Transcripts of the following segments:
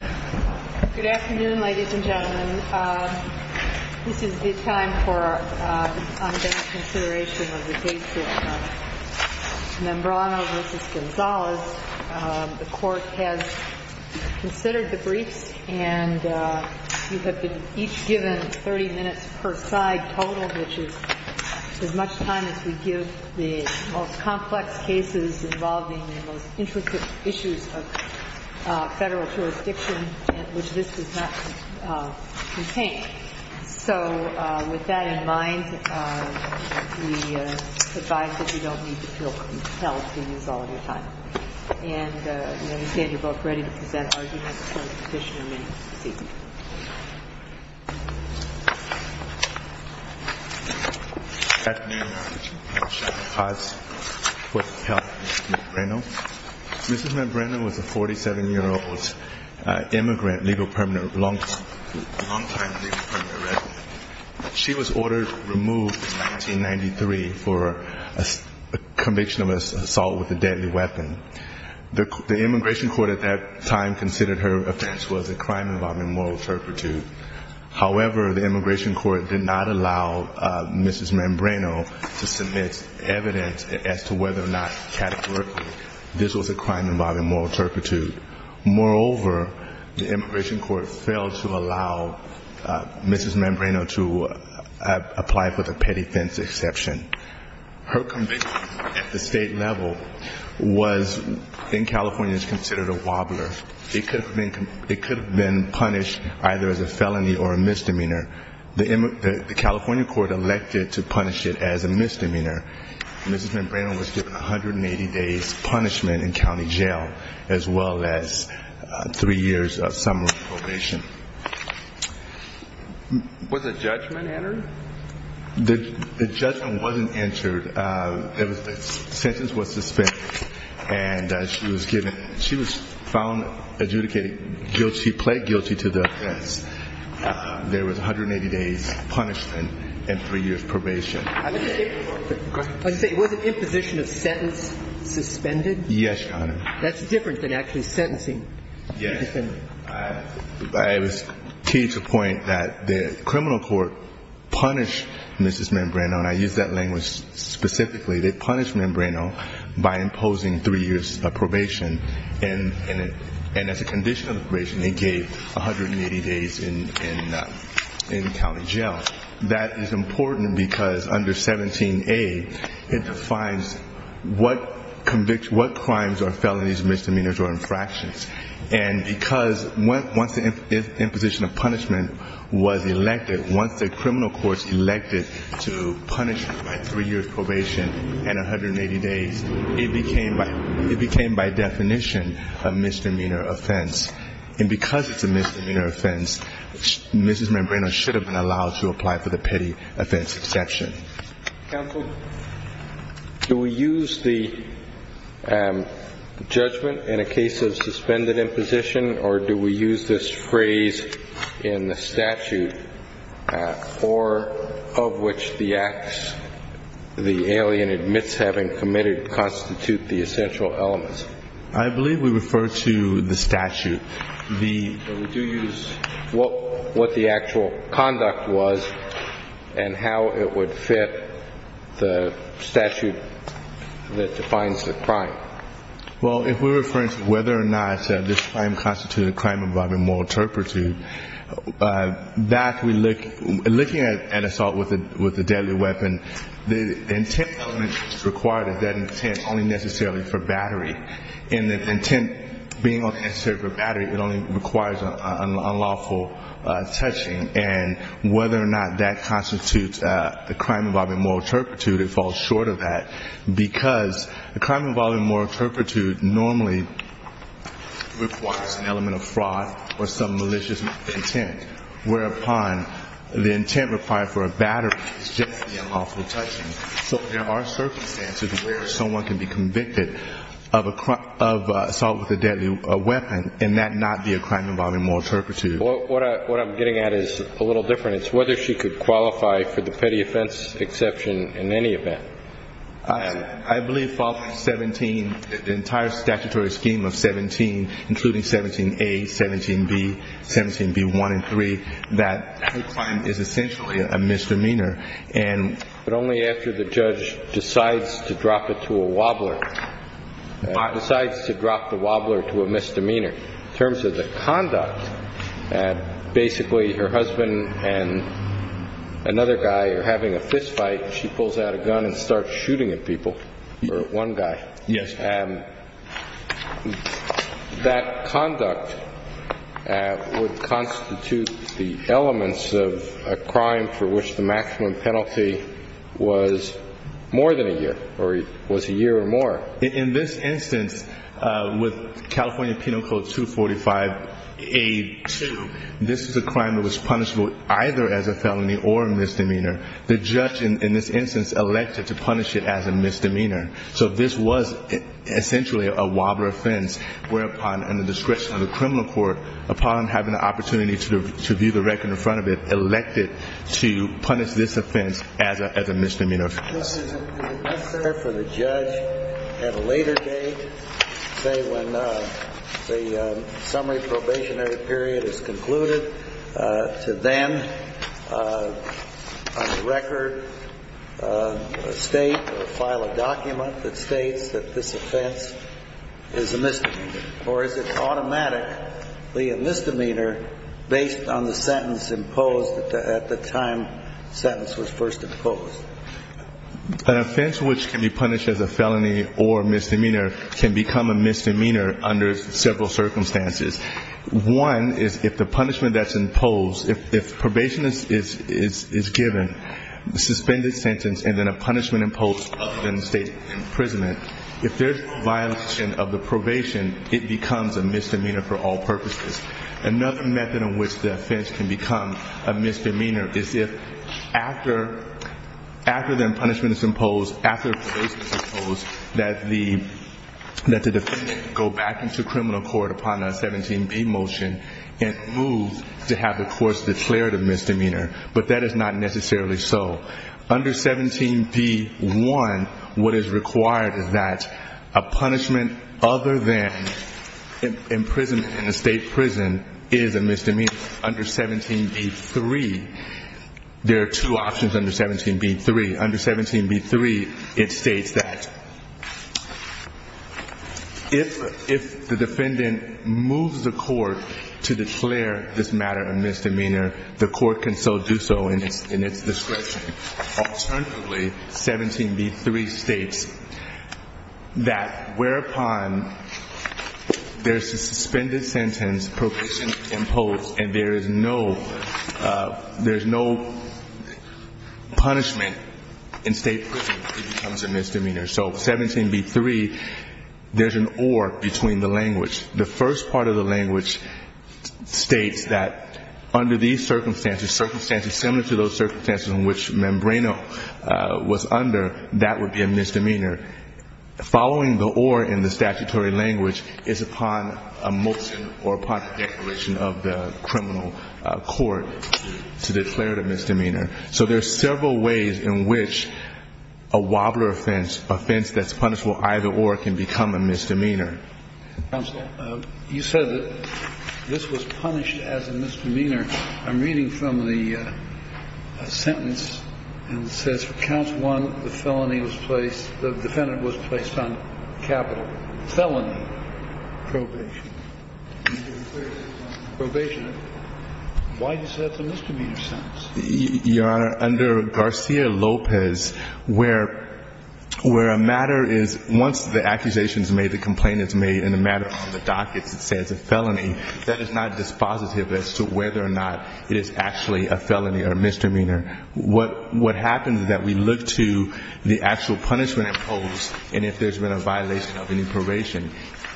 Good afternoon, ladies and gentlemen. This is the time for our ongoing consideration of the case of Membreno v. Gonzales. The Court has considered the briefs, and you have been each given 30 minutes per side total, which is as much time as we give the most complex cases involving the most intricate issues of federal jurisdiction. And this does not contain it. So with that in mind, we advise that you don't need to feel compelled to use all of your time. And we understand you're both ready to present arguments before the petitioner may proceed. Good afternoon, Your Honor. My name is Sean Paz, with the help of Mr. Membreno. Mrs. Membreno was a 47-year-old immigrant, long-time legal permanent resident. She was ordered removed in 1993 for a conviction of assault with a deadly weapon. The Immigration Court at that time considered her offense was a crime involving more than one person. However, the Immigration Court did not allow Mrs. Membreno to submit evidence as to whether or not categorically this was a crime involving moral turpitude. Moreover, the Immigration Court failed to allow Mrs. Membreno to apply for the petty-fence exception. Her conviction at the state level was, in California, is considered a wobbler. It could have been punished either as a felony or a misdemeanor. The California court elected to punish it as a misdemeanor. Mrs. Membreno was given 180 days punishment in county jail, as well as three years of summer probation. Was a judgment entered? The judgment wasn't entered. The sentence was suspended, and she was found adjudicated guilty, pled guilty to the offense. There was 180 days punishment and three years probation. Was the imposition of sentence suspended? Yes, Your Honor. That's different than actually sentencing. Yes. I was key to the point that the criminal court punished Mrs. Membreno, and I used that language specifically. They punished Membreno by imposing three years of probation. And as a condition of probation, they gave 180 days in county jail. That is important because under 17A, it defines what crimes are felonies, misdemeanors, or infractions. And because once the imposition of punishment was elected, once the criminal court elected to punish by three years probation and 180 days, it became by definition a misdemeanor offense. And because it's a misdemeanor offense, Mrs. Membreno should have been allowed to apply for the petty offense exception. Counsel, do we use the judgment in a case of suspended imposition, or do we use this phrase in the statute, or of which the acts the alien admits having committed constitute the essential elements? I believe we refer to the statute. But we do use what the actual conduct was and how it would fit the statute that defines the crime. Well, if we're referring to whether or not this crime constituted a crime involving moral turpitude, that we look at assault with a deadly weapon, the intent element required is that intent only necessarily for battery. And the intent being only necessary for battery, it only requires unlawful touching. And whether or not that constitutes a crime involving moral turpitude, it falls short of that because a crime involving moral turpitude normally requires an element of fraud or some malicious intent, whereupon the intent required for a battery is generally unlawful touching. So there are circumstances where someone can be convicted of assault with a deadly weapon and that not be a crime involving moral turpitude. What I'm getting at is a little different. It's whether she could qualify for the petty offense exception in any event. I believe fall from 17, the entire statutory scheme of 17, including 17A, 17B, 17B1 and 3, that her crime is essentially a misdemeanor. But only after the judge decides to drop it to a wobbler, decides to drop the wobbler to a misdemeanor. In terms of the conduct, basically her husband and another guy are having a fist fight. She pulls out a gun and starts shooting at people, or at one guy. Yes. And that conduct would constitute the elements of a crime for which the maximum penalty was more than a year, or was a year or more. In this instance, with California Penal Code 245A2, this is a crime that was punishable either as a felony or a misdemeanor. The judge in this instance elected to punish it as a misdemeanor. So this was essentially a wobbler offense, whereupon, under the discretion of the criminal court, upon having the opportunity to view the record in front of it, elected to punish this offense as a misdemeanor. Is it necessary for the judge at a later date, say when the summary probationary period is concluded, to then on the record state or file a document that states that this offense is a misdemeanor? Or is it automatically a misdemeanor based on the sentence imposed at the time the sentence was first imposed? An offense which can be punished as a felony or misdemeanor can become a misdemeanor under several circumstances. One is if the punishment that's imposed, if probation is given, suspended sentence, and then a punishment imposed other than state imprisonment, if there's violation of the probation, it becomes a misdemeanor for all purposes. Another method in which the offense can become a misdemeanor is if after the punishment is imposed, after probation is imposed, that the defendant can go back into criminal court upon a 17B motion and move to have the court's declarative misdemeanor, but that is not necessarily so. Under 17B-1, what is required is that a punishment other than imprisonment in a state prison is a misdemeanor. Under 17B-3, there are two options under 17B-3. Under 17B-3, it states that if the defendant moves the court to declare this matter a misdemeanor, the court can so do so in its discretion. Alternatively, 17B-3 states that whereupon there's a suspended sentence, probation imposed, and there is no punishment in state prison, it becomes a misdemeanor. So 17B-3, there's an or between the language. The first part of the language states that under these circumstances, circumstances similar to those circumstances in which Membrano was under, that would be a misdemeanor. Following the or in the statutory language is upon a motion or upon the declaration of the criminal court to declare it a misdemeanor. So there are several ways in which a wobbler offense, offense that's punishable either or, can become a misdemeanor. Kennedy. Counsel, you said that this was punished as a misdemeanor. I'm reading from the sentence and it says for Counsel 1, the felony was placed, the defendant was placed on capital. Felony. Probation. Probation. Why do you say that's a misdemeanor sentence? Your Honor, under Garcia-Lopez, where a matter is, once the accusation is made, the complaint is made, and the matter on the docket says a felony, that is not dispositive as to whether or not it is actually a felony or misdemeanor. What happens is that we look to the actual punishment imposed and if there's been a violation of any probation.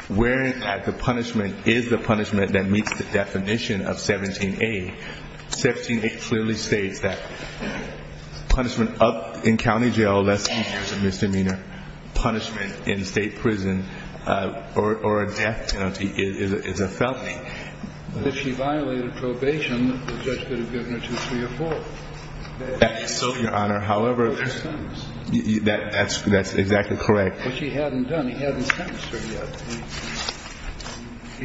Where at the punishment is the punishment that meets the definition of 17A. 17A clearly states that punishment up in county jail unless it is a misdemeanor. Punishment in state prison or a death penalty is a felony. If she violated probation, the judge could have given her two, three, or four. That is so, Your Honor. However, that's exactly correct. But she hadn't done it. He hadn't sentenced her yet.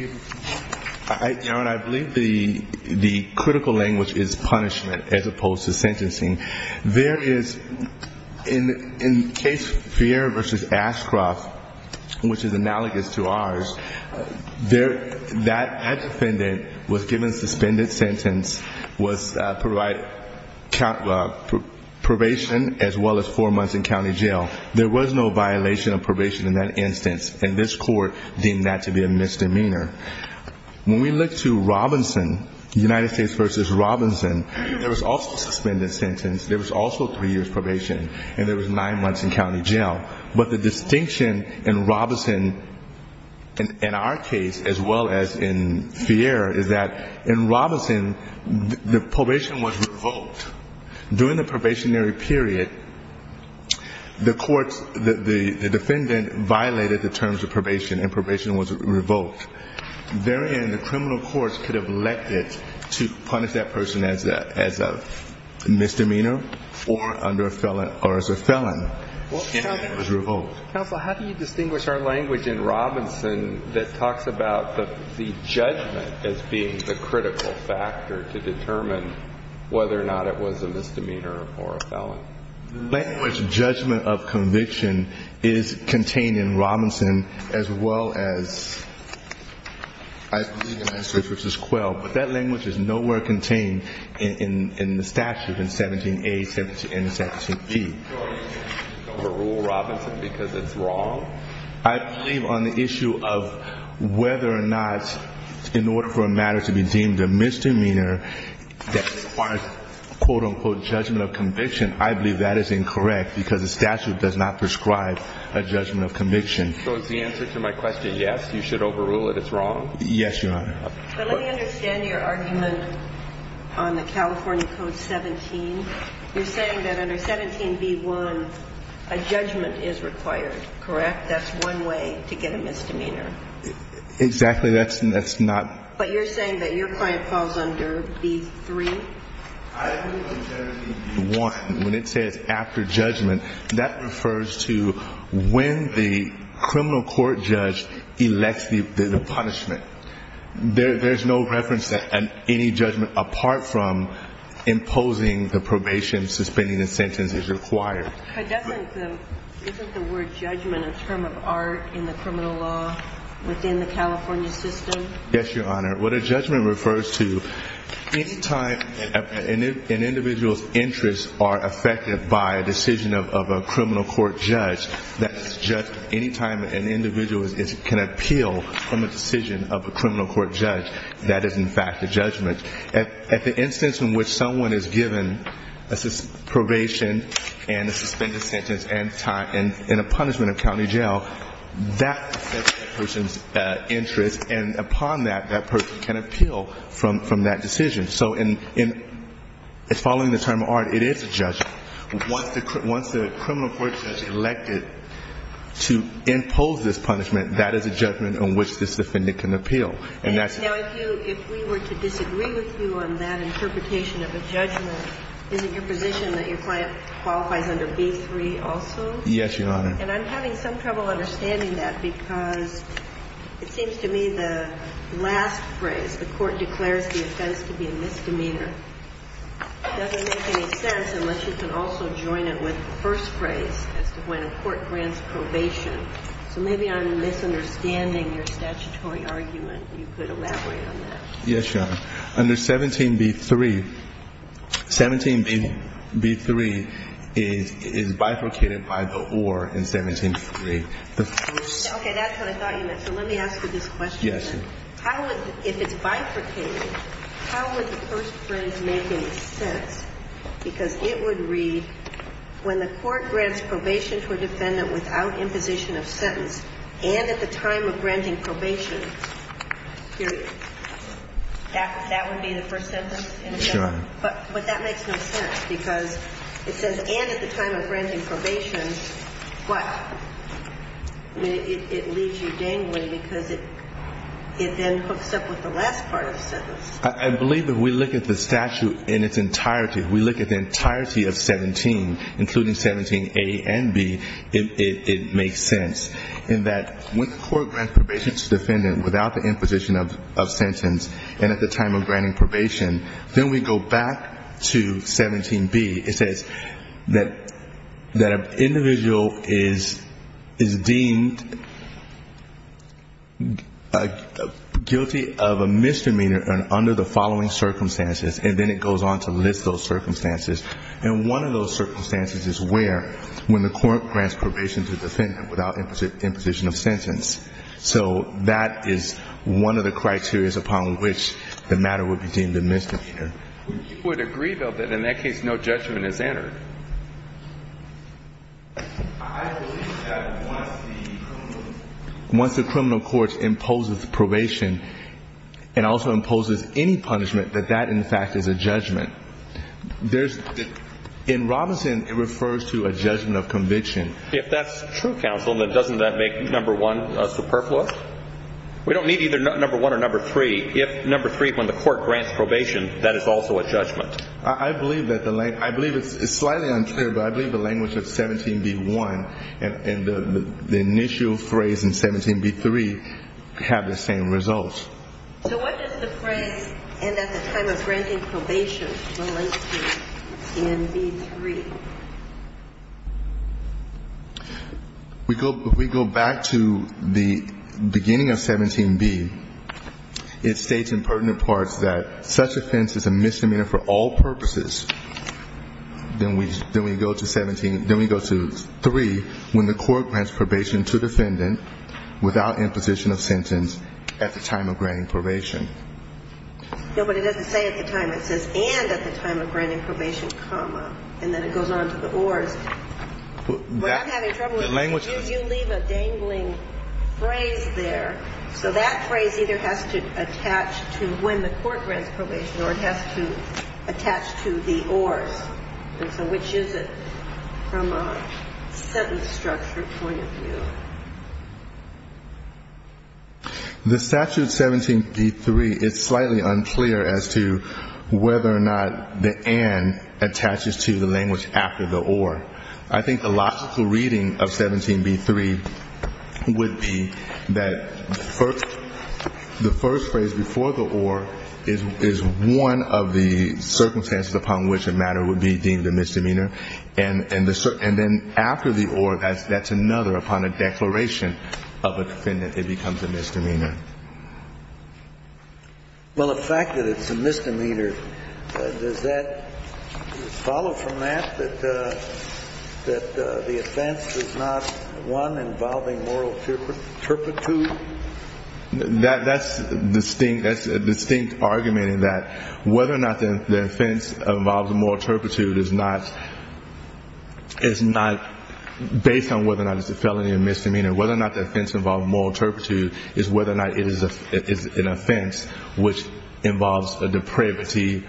Your Honor, I believe the critical language is punishment as opposed to sentencing. There is, in case Fierra v. Ashcroft, which is analogous to ours, that defendant was given a suspended sentence, was provided probation as well as four months in county jail. There was no violation of probation in that instance. And this court deemed that to be a misdemeanor. When we look to Robinson, United States v. Robinson, there was also a suspended sentence. There was also three years probation. And there was nine months in county jail. But the distinction in Robinson, in our case as well as in Fierra, is that in Robinson the probation was revoked. During the probationary period, the defendant violated the terms of probation and probation was revoked. Therein, the criminal courts could have let it to punish that person as a misdemeanor or as a felon. It was revoked. Counsel, how do you distinguish our language in Robinson that talks about the judgment as being the critical factor to determine whether or not it was a misdemeanor or a felon? Language judgment of conviction is contained in Robinson as well as United States v. Quell. But that language is nowhere contained in the statute in 17A and 17B. So you don't rule Robinson because it's wrong? I believe on the issue of whether or not in order for a matter to be deemed a misdemeanor that requires, quote, unquote, judgment of conviction, I believe that is incorrect because the statute does not prescribe a judgment of conviction. So is the answer to my question yes, you should overrule it, it's wrong? Yes, Your Honor. But let me understand your argument on the California Code 17. You're saying that under 17B1, a judgment is required, correct? That's one way to get a misdemeanor. Exactly. That's not. But you're saying that your client falls under B3? I believe on 17B1, when it says after judgment, that refers to when the criminal court judge elects the punishment. There's no reference to any judgment apart from imposing the probation, suspending the sentence is required. But isn't the word judgment a term of art in the criminal law within the California system? Yes, Your Honor. What a judgment refers to, any time an individual's interests are affected by a decision of a criminal court judge, any time an individual can appeal from a decision of a criminal court judge, that is, in fact, a judgment. At the instance in which someone is given probation and a suspended sentence and a punishment of county jail, that affects that person's interests, and upon that, that person can appeal from that decision. So following the term of art, it is a judgment. Once the criminal court judge has elected to impose this punishment, that is a judgment on which this defendant can appeal. Now, if we were to disagree with you on that interpretation of a judgment, is it your position that your client qualifies under B3 also? Yes, Your Honor. And I'm having some trouble understanding that because it seems to me the last phrase, the court declares the offense to be a misdemeanor, doesn't make any sense unless you can also join it with the first phrase as to when a court grants probation. So maybe I'm misunderstanding your statutory argument. You could elaborate on that. Yes, Your Honor. Under 17B3, 17B3 is bifurcated by the or in 17B3. Okay. That's what I thought you meant. So let me ask you this question. Yes, Your Honor. If it's bifurcated, how would the first phrase make any sense? Because it would read, when the court grants probation to a defendant without imposition of sentence and at the time of granting probation, period. That would be the first sentence? Yes, Your Honor. But that makes no sense because it says, and at the time of granting probation, but it leaves you dangling because it then hooks up with the last part of the sentence. I believe if we look at the statute in its entirety, if we look at the entirety of 17, including 17A and B, it makes sense, in that when the court grants probation to a defendant without the imposition of sentence and at the time of granting probation, then we go back to 17B. It says that an individual is deemed guilty of a misdemeanor under the following circumstances, and then it goes on to list those circumstances. And one of those circumstances is where? When the court grants probation to a defendant without imposition of sentence. So that is one of the criterias upon which the matter would be deemed a misdemeanor. You would agree, though, that in that case no judgment is entered? I believe that once the criminal court imposes probation and also imposes any punishment, that that, in fact, is a judgment. In Robinson, it refers to a judgment of conviction. If that's true, counsel, then doesn't that make No. 1 superfluous? We don't need either No. 1 or No. 3. If No. 3, when the court grants probation, that is also a judgment. I believe it's slightly untrue, but I believe the language of 17B1 and the initial phrase in 17B3 have the same result. So what does the phrase, and at the time of granting probation, relate to in B3? If we go back to the beginning of 17B, it states in pertinent parts that such offense is a misdemeanor for all purposes. Then we go to 17, then we go to 3, when the court grants probation to defendant without imposition of sentence at the time of granting probation. No, but it doesn't say at the time. It says, and at the time of granting probation, comma, and then it goes on to the ORs. What I'm having trouble with is you leave a dangling phrase there, so that phrase either has to attach to when the court grants probation or it has to attach to the ORs. So which is it from a sentence structure point of view? The statute 17B3 is slightly unclear as to whether or not the and attaches to the language after the OR. I think the logical reading of 17B3 would be that the first phrase before the OR is one of the circumstances upon which a matter would be deemed a misdemeanor. And then after the OR, that's another upon a declaration of a defendant it becomes a misdemeanor. Well, the fact that it's a misdemeanor, does that follow from that, that the offense is not one involving moral turpitude? That's a distinct argument in that whether or not the offense involves moral turpitude is not based on whether or not it's a felony or misdemeanor. Whether or not the offense involves moral turpitude is whether or not it is an offense which involves a depravity,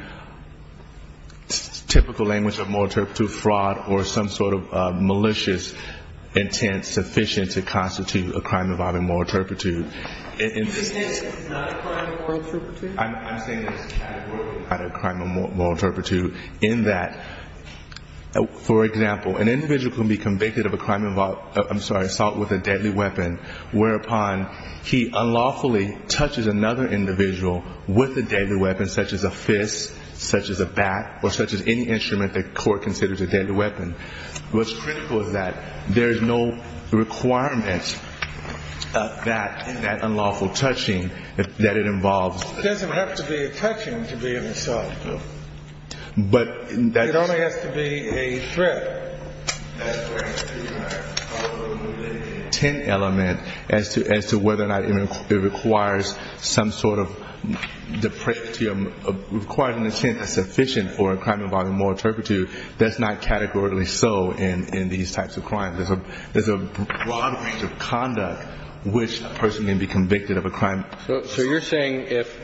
typical language of moral turpitude, fraud or some sort of malicious intent sufficient to constitute a crime involving moral turpitude. Is this not a crime of moral turpitude? I'm saying it's categorically not a crime of moral turpitude in that, for example, an individual can be convicted of a crime involved I'm sorry, assault with a deadly weapon, whereupon he unlawfully touches another individual with a deadly weapon such as a fist, such as a bat, or such as any instrument the court considers a deadly weapon. What's critical is that there is no requirement of that unlawful touching that it involves It doesn't have to be a touching to be an assault. It only has to be a threat. That's where the intent element as to whether or not it requires some sort of depravity, requires an intent that's sufficient for a crime involving moral turpitude. That's not categorically so in these types of crimes. There's a broad range of conduct which a person can be convicted of a crime. So you're saying if,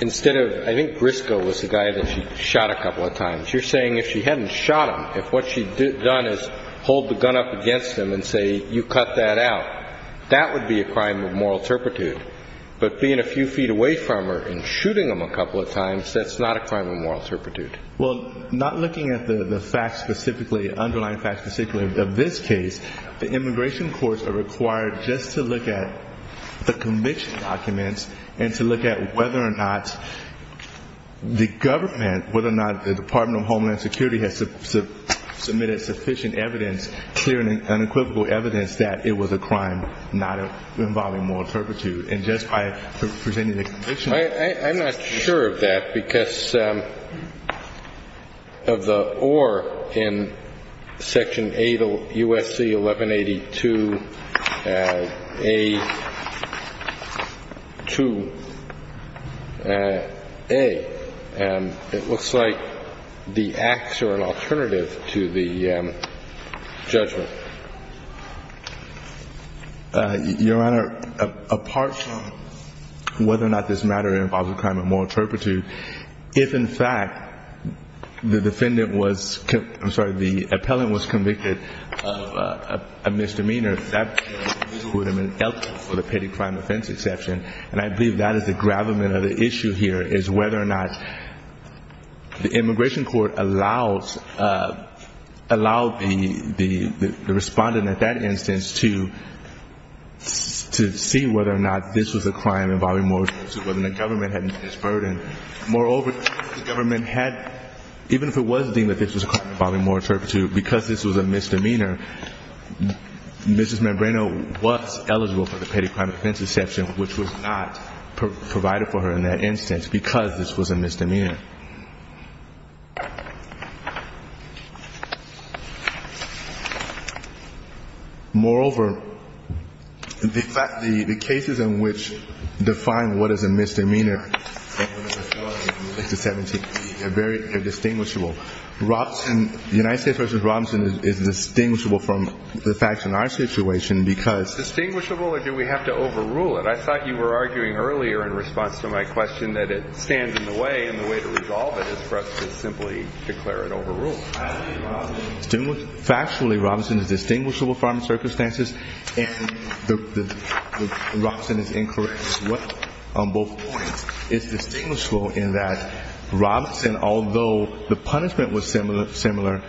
instead of, I think Briscoe was the guy that she shot a couple of times, you're saying if she hadn't shot him, if what she'd done is hold the gun up against him and say, you cut that out, that would be a crime of moral turpitude. But being a few feet away from her and shooting him a couple of times, that's not a crime of moral turpitude. Well, not looking at the facts specifically, underlying facts specifically of this case, the immigration courts are required just to look at the conviction documents and to look at whether or not the government, whether or not the Department of Homeland Security has submitted sufficient evidence, clear and unequivocal evidence, that it was a crime not involving moral turpitude. And just by presenting the conviction. I'm not sure of that because of the or in Section 8 U.S.C. 1182A2A. It looks like the acts are an alternative to the judgment. Your Honor, apart from whether or not this matter involves a crime of moral turpitude, if in fact the defendant was, I'm sorry, the appellant was convicted of a misdemeanor, that would have been eligible for the petty crime offense exception. And I believe that is the gravamen of the issue here is whether or not the immigration court allows, allows the respondent at that instance to see whether or not this was a crime involving moral turpitude, whether the government had met its burden. Moreover, the government had, even if it was deemed that this was a crime involving moral turpitude, because this was a misdemeanor, Mrs. Manbreno was eligible for the petty crime offense exception, which was not provided for her in that instance because this was a misdemeanor. Moreover, the fact, the cases in which define what is a misdemeanor, they're very, they're distinguishable. Robson, United States v. Robson is distinguishable from the facts in our situation because Distinguishable or do we have to overrule it? I thought you were arguing earlier in response to my question that it stands in the way and the way to resolve it is for us to simply declare it overruled. Factually, Robson is distinguishable from circumstances and Robson is incorrect as well on both points. It's distinguishable in that Robson, although the punishment was similar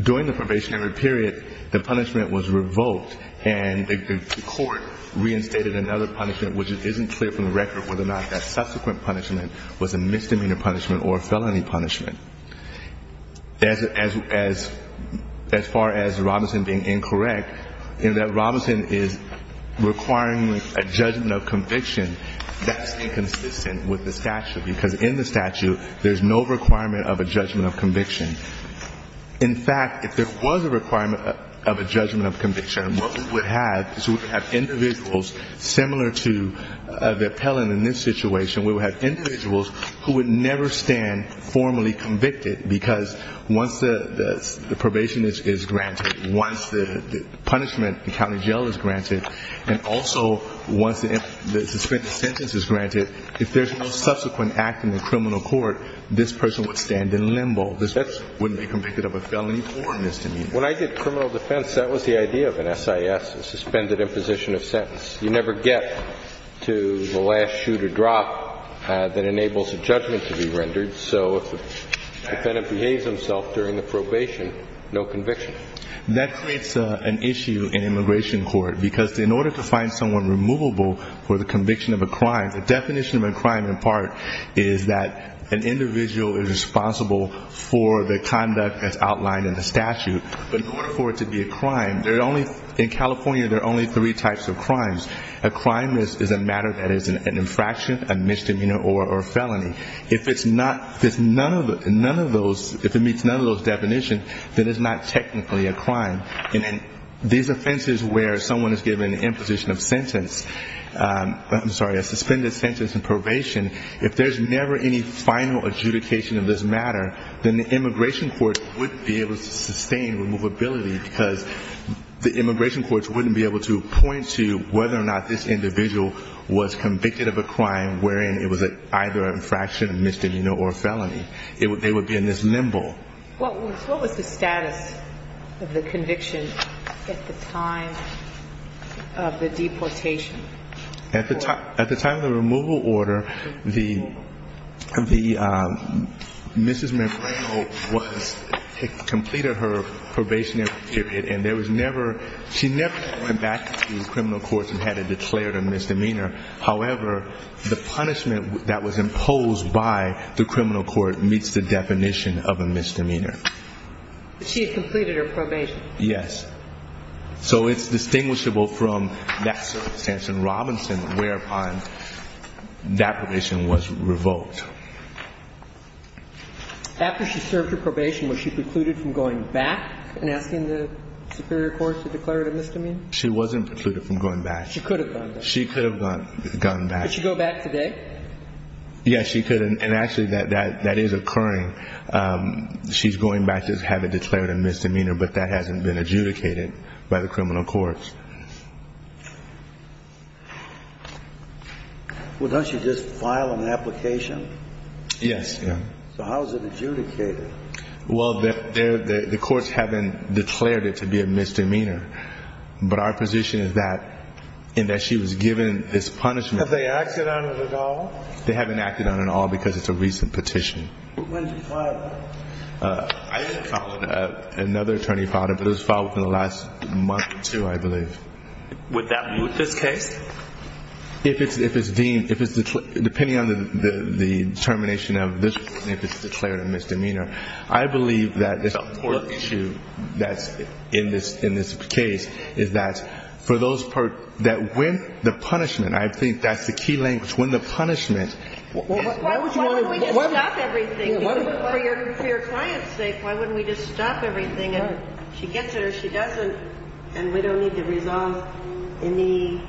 during the probationary period, the punishment was revoked and the court reinstated another punishment, which isn't clear from the record whether or not that subsequent punishment was a misdemeanor punishment or a felony punishment. As far as Robson being incorrect, in that Robson is requiring a judgment of conviction that's inconsistent with the statute because in the statute there's no requirement of a judgment of conviction. In fact, if there was a requirement of a judgment of conviction, what we would have is we would have individuals similar to the appellant in this situation, we would have individuals who would never stand formally convicted because once the probation is granted, once the punishment in county jail is granted, and also once the suspended sentence is granted, if there's no subsequent act in the criminal court, this person would stand in limbo. This person wouldn't be convicted of a felony or a misdemeanor. When I did criminal defense, that was the idea of an SIS, a suspended imposition of sentence. You never get to the last shoe to drop that enables a judgment to be rendered. So if the defendant behaves himself during the probation, no conviction. That creates an issue in immigration court because in order to find someone removable for the conviction of a crime, the definition of a crime in part is that an individual is responsible for the conduct as outlined in the statute. But in order for it to be a crime, in California there are only three types of crimes. A crime is a matter that is an infraction, a misdemeanor, or a felony. If it's none of those, if it meets none of those definitions, then it's not technically a crime. And these offenses where someone is given an imposition of sentence, I'm sorry, a suspended sentence in probation, if there's never any final adjudication of this matter, then the immigration court wouldn't be able to sustain removability because the immigration courts wouldn't be able to point to whether or not this individual was convicted of a crime wherein it was either an infraction, a misdemeanor, or a felony. They would be in this limbo. What was the status of the conviction at the time of the deportation? At the time of the removal order, Mrs. Merano completed her probationary period, and she never went back to the criminal courts and had it declared a misdemeanor. However, the punishment that was imposed by the criminal court meets the definition of a misdemeanor. She had completed her probation. Yes. So it's distinguishable from that circumstance in Robinson whereupon that probation was revoked. After she served her probation, was she precluded from going back and asking the superior courts to declare it a misdemeanor? She wasn't precluded from going back. She could have gone back. She could have gone back. Could she go back today? Yes, she could. And actually, that is occurring. She's going back to have it declared a misdemeanor, but that hasn't been adjudicated by the criminal courts. Well, don't you just file an application? Yes. So how is it adjudicated? Well, the courts haven't declared it to be a misdemeanor, but our position is that in that she was given this punishment. Have they acted on it at all? They haven't acted on it at all because it's a recent petition. When did you file it? I didn't file it. Another attorney filed it, but it was filed within the last month or two, I believe. Would that be with this case? If it's deemed, depending on the determination of if it's declared a misdemeanor, I believe that this court issue that's in this case is that when the punishment, I think that's the key language. Why wouldn't we just stop everything? For your client's sake, why wouldn't we just stop everything? If she gets it or she doesn't, then we don't need to resolve any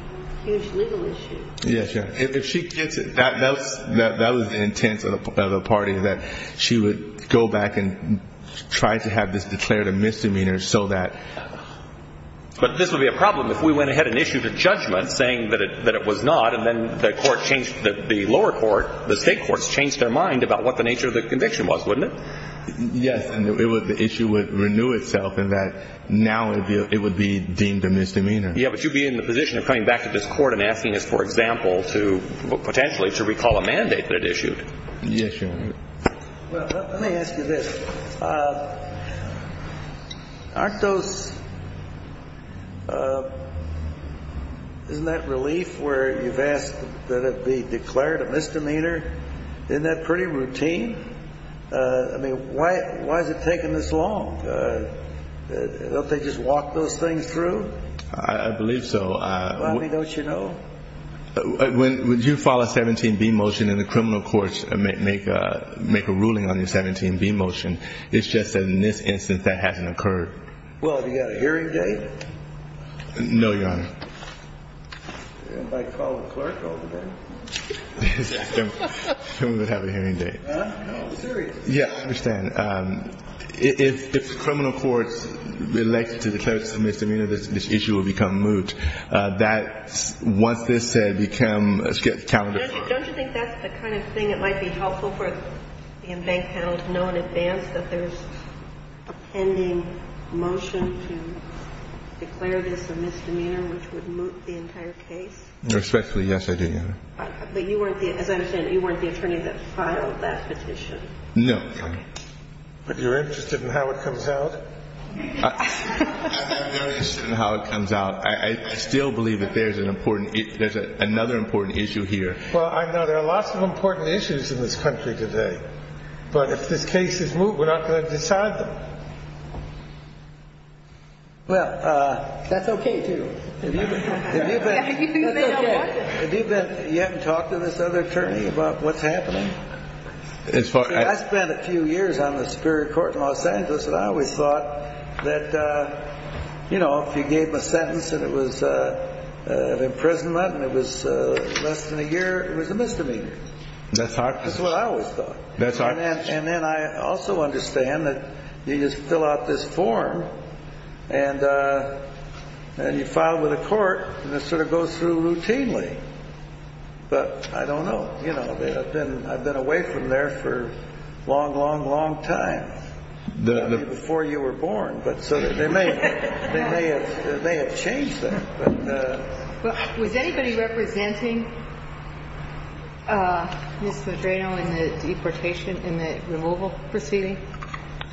huge legal issues. Yes, yes. If she gets it, that was the intent of the party, that she would go back and try to have this declared a misdemeanor so that... The lower court, the state courts, changed their mind about what the nature of the conviction was, wouldn't it? Yes, and the issue would renew itself in that now it would be deemed a misdemeanor. Yes, but you'd be in the position of coming back to this court and asking us, for example, to potentially to recall a mandate that it issued. Yes, Your Honor. Well, let me ask you this. Aren't those... isn't that relief where you've asked that it be declared a misdemeanor? Isn't that pretty routine? I mean, why is it taking this long? Don't they just walk those things through? I believe so. Bobby, don't you know? When you file a 17B motion and the criminal courts make a ruling on your 17B motion, it's just that in this instance that hasn't occurred. Well, have you got a hearing date? No, Your Honor. I might call the clerk over there. Someone would have a hearing date. I'm serious. Yes, I understand. If the criminal courts elect to declare this a misdemeanor, this issue will become moot. That, once this is said, becomes a calendar file. Don't you think that's the kind of thing that might be helpful for the in-bank panel to know in advance that there's a pending motion to declare this a misdemeanor, which would moot the entire case? Respectfully, yes, I do, Your Honor. But you weren't the... as I understand it, you weren't the attorney that filed that petition. No. But you're interested in how it comes out? I'm very interested in how it comes out. I still believe that there's an important... there's another important issue here. Well, I know there are lots of important issues in this country today, but if this case is moot, we're not going to decide them. Well, that's okay, too. Have you been... That's okay. Have you been... you haven't talked to this other attorney about what's happening? As far as... I spent a few years on the Superior Court in Los Angeles, and I always thought that, you know, if you gave them a sentence and it was an imprisonment and it was less than a year, it was a misdemeanor. That's how... That's what I always thought. That's how... And then I also understand that you just fill out this form, and you file with the court, and it sort of goes through routinely. But I don't know. You know, I've been away from there for a long, long, long time, before you were born. So they may have changed that. Was anybody representing Ms. Membreno in the deportation... in the removal proceeding?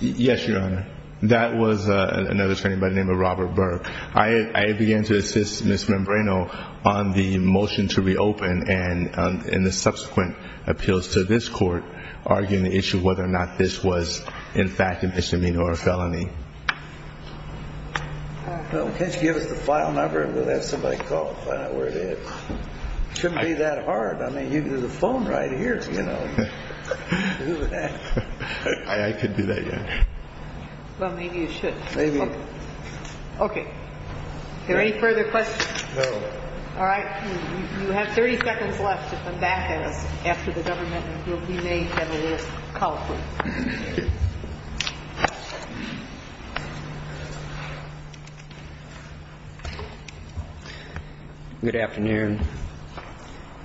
Yes, Your Honor. That was another attorney by the name of Robert Burke. I began to assist Ms. Membreno on the motion to reopen and the subsequent appeals to this court, arguing the issue of whether or not this was, in fact, a misdemeanor or a felony. Well, can't you give us the file number? We'll have somebody call and find out where it is. It shouldn't be that hard. I mean, there's a phone right here, you know. I could do that, Your Honor. Well, maybe you should. Maybe. Okay. Are there any further questions? No. All right. You have 30 seconds left to come back to us after the government will be made and it is. Call, please. Thank you. Good afternoon.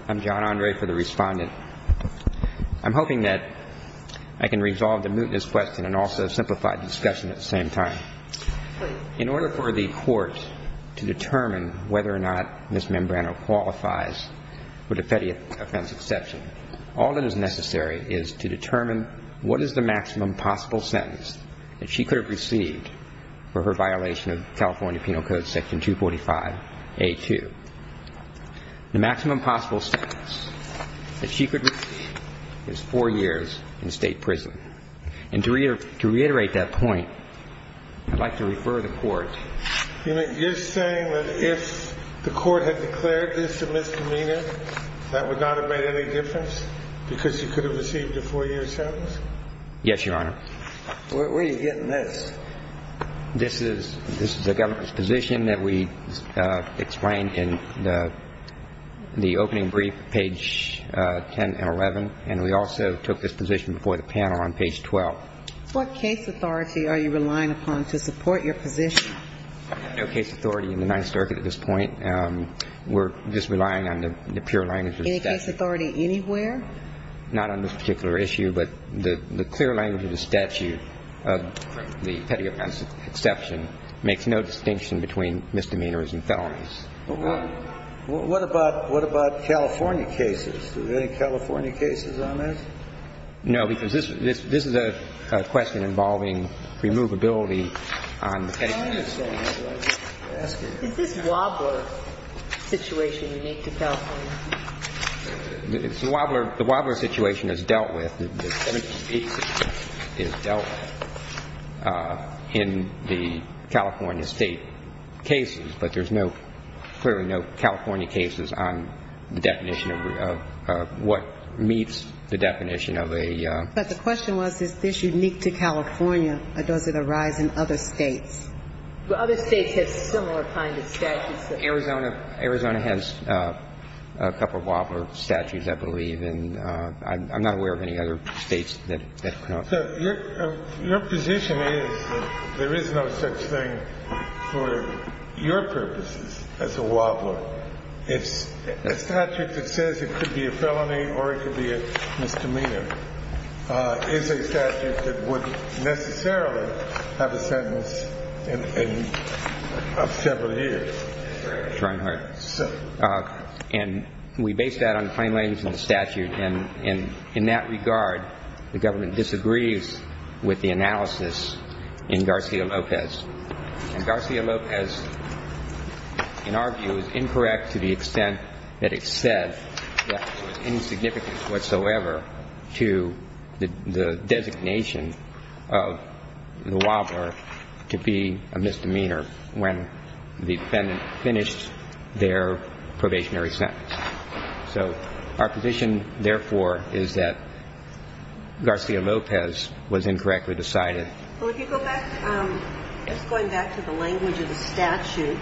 I'm John Andre for the Respondent. I'm hoping that I can resolve the mootness question and also simplify the discussion at the same time. In order for the court to determine whether or not Ms. Membreno qualifies for the Fetty offense exception, all that is necessary is to determine what is the maximum possible sentence that she could have received for her violation of California Penal Code Section 245A2. The maximum possible sentence that she could receive is four years in state prison. And to reiterate that point, I'd like to refer the court. You're saying that if the court had declared this a misdemeanor, that would not have made any difference because she could have received a four-year sentence? Yes, Your Honor. Where are you getting this? This is a government position that we explained in the opening brief, page 10 and 11, and we also took this position before the panel on page 12. What case authority are you relying upon to support your position? No case authority in the Ninth Circuit at this point. We're just relying on the pure language of the statute. Any case authority anywhere? Not on this particular issue, but the clear language of the statute of the Fetty offense exception makes no distinction between misdemeanors and felonies. What about California cases? Are there any California cases on this? No, because this is a question involving removability on the Fetty offense. The Wobbler situation is dealt with. The Fetty case is dealt with in the California State cases, but there's no, clearly no California cases on the definition of what meets the definition of a ---- But the question was, is this unique to California, or does it arise in other States? Other States have similar kind of statutes. Arizona has a couple of Wobbler statutes, I believe, and I'm not aware of any other States that do not. So your position is that there is no such thing for your purposes as a Wobbler. A statute that says it could be a felony or it could be a misdemeanor is a statute that would necessarily have a sentence of several years. And we base that on the plain language of the statute, and in that regard, the government disagrees with the analysis in Garcia-Lopez. And Garcia-Lopez, in our view, is incorrect to the extent that it said that it was insignificant whatsoever to the designation of the Wobbler to be a misdemeanor when the defendant finished their probationary sentence. So our position, therefore, is that Garcia-Lopez was incorrectly decided. Well, if you go back, just going back to the language of the statute,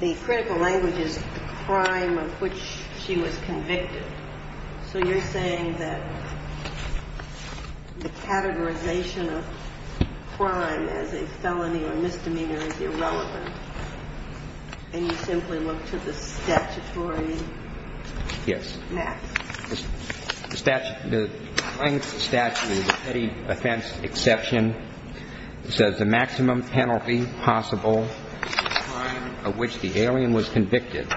the critical language is the crime of which she was convicted. So you're saying that the categorization of crime as a felony or misdemeanor is irrelevant, and you simply look to the statutory map. The statute, the plain statute is a petty offense exception. It says the maximum penalty possible for the crime of which the alien was convicted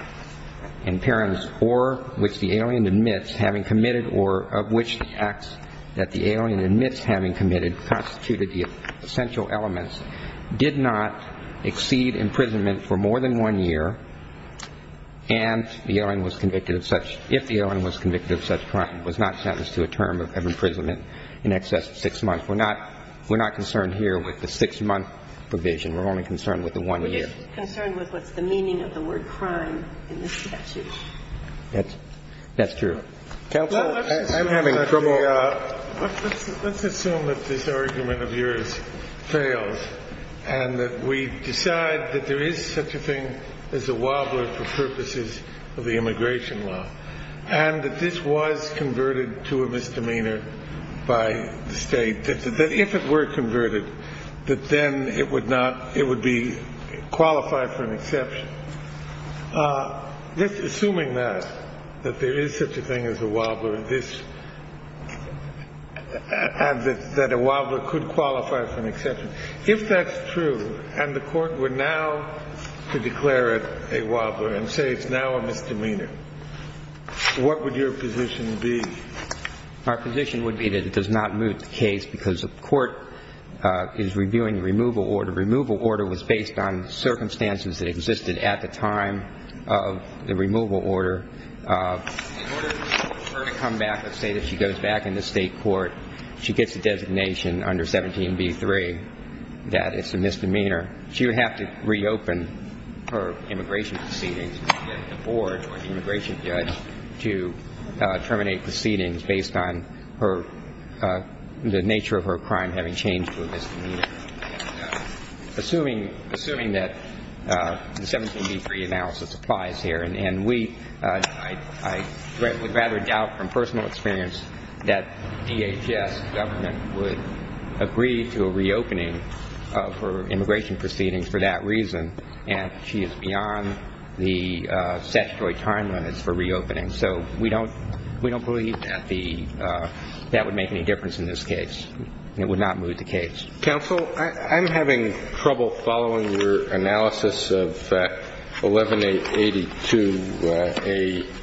in parents or which the alien admits having committed or of which the acts that the alien admits having committed constituted the essential elements did not exceed imprisonment for more than one year and the alien was convicted of such, if the alien was convicted of such crime, was not sentenced to a term of imprisonment in excess of six months. We're not concerned here with the six-month provision. We're only concerned with the one year. We're just concerned with what's the meaning of the word crime in the statute. That's true. Counsel, I'm having trouble. Let's assume that this argument of yours fails and that we decide that there is such a thing as a wobbler for purposes of the immigration law and that this was converted to a misdemeanor by the state, that if it were converted, that then it would not it would be qualified for an exception. Assuming that, that there is such a thing as a wobbler and that a wobbler could qualify for an exception, if that's true and the court were now to declare it a wobbler and say it's now a misdemeanor, what would your position be? Our position would be that it does not move the case because the court is reviewing removal order. The removal order was based on circumstances that existed at the time of the removal order. In order for her to come back, let's say that she goes back in the state court, she gets a designation under 17b-3 that it's a misdemeanor. She would have to reopen her immigration proceedings and get the board or the immigration judge to terminate proceedings based on the nature of her crime having changed to a misdemeanor. Assuming that the 17b-3 analysis applies here and we, I would rather doubt from personal experience that DHS government would agree to a reopening of her immigration proceedings for that reason and she is beyond the statutory time limits for reopening. So we don't, we don't believe that the, that would make any difference in this case. It would not move the case. Counsel, I'm having trouble following your analysis of 11a-82a-2.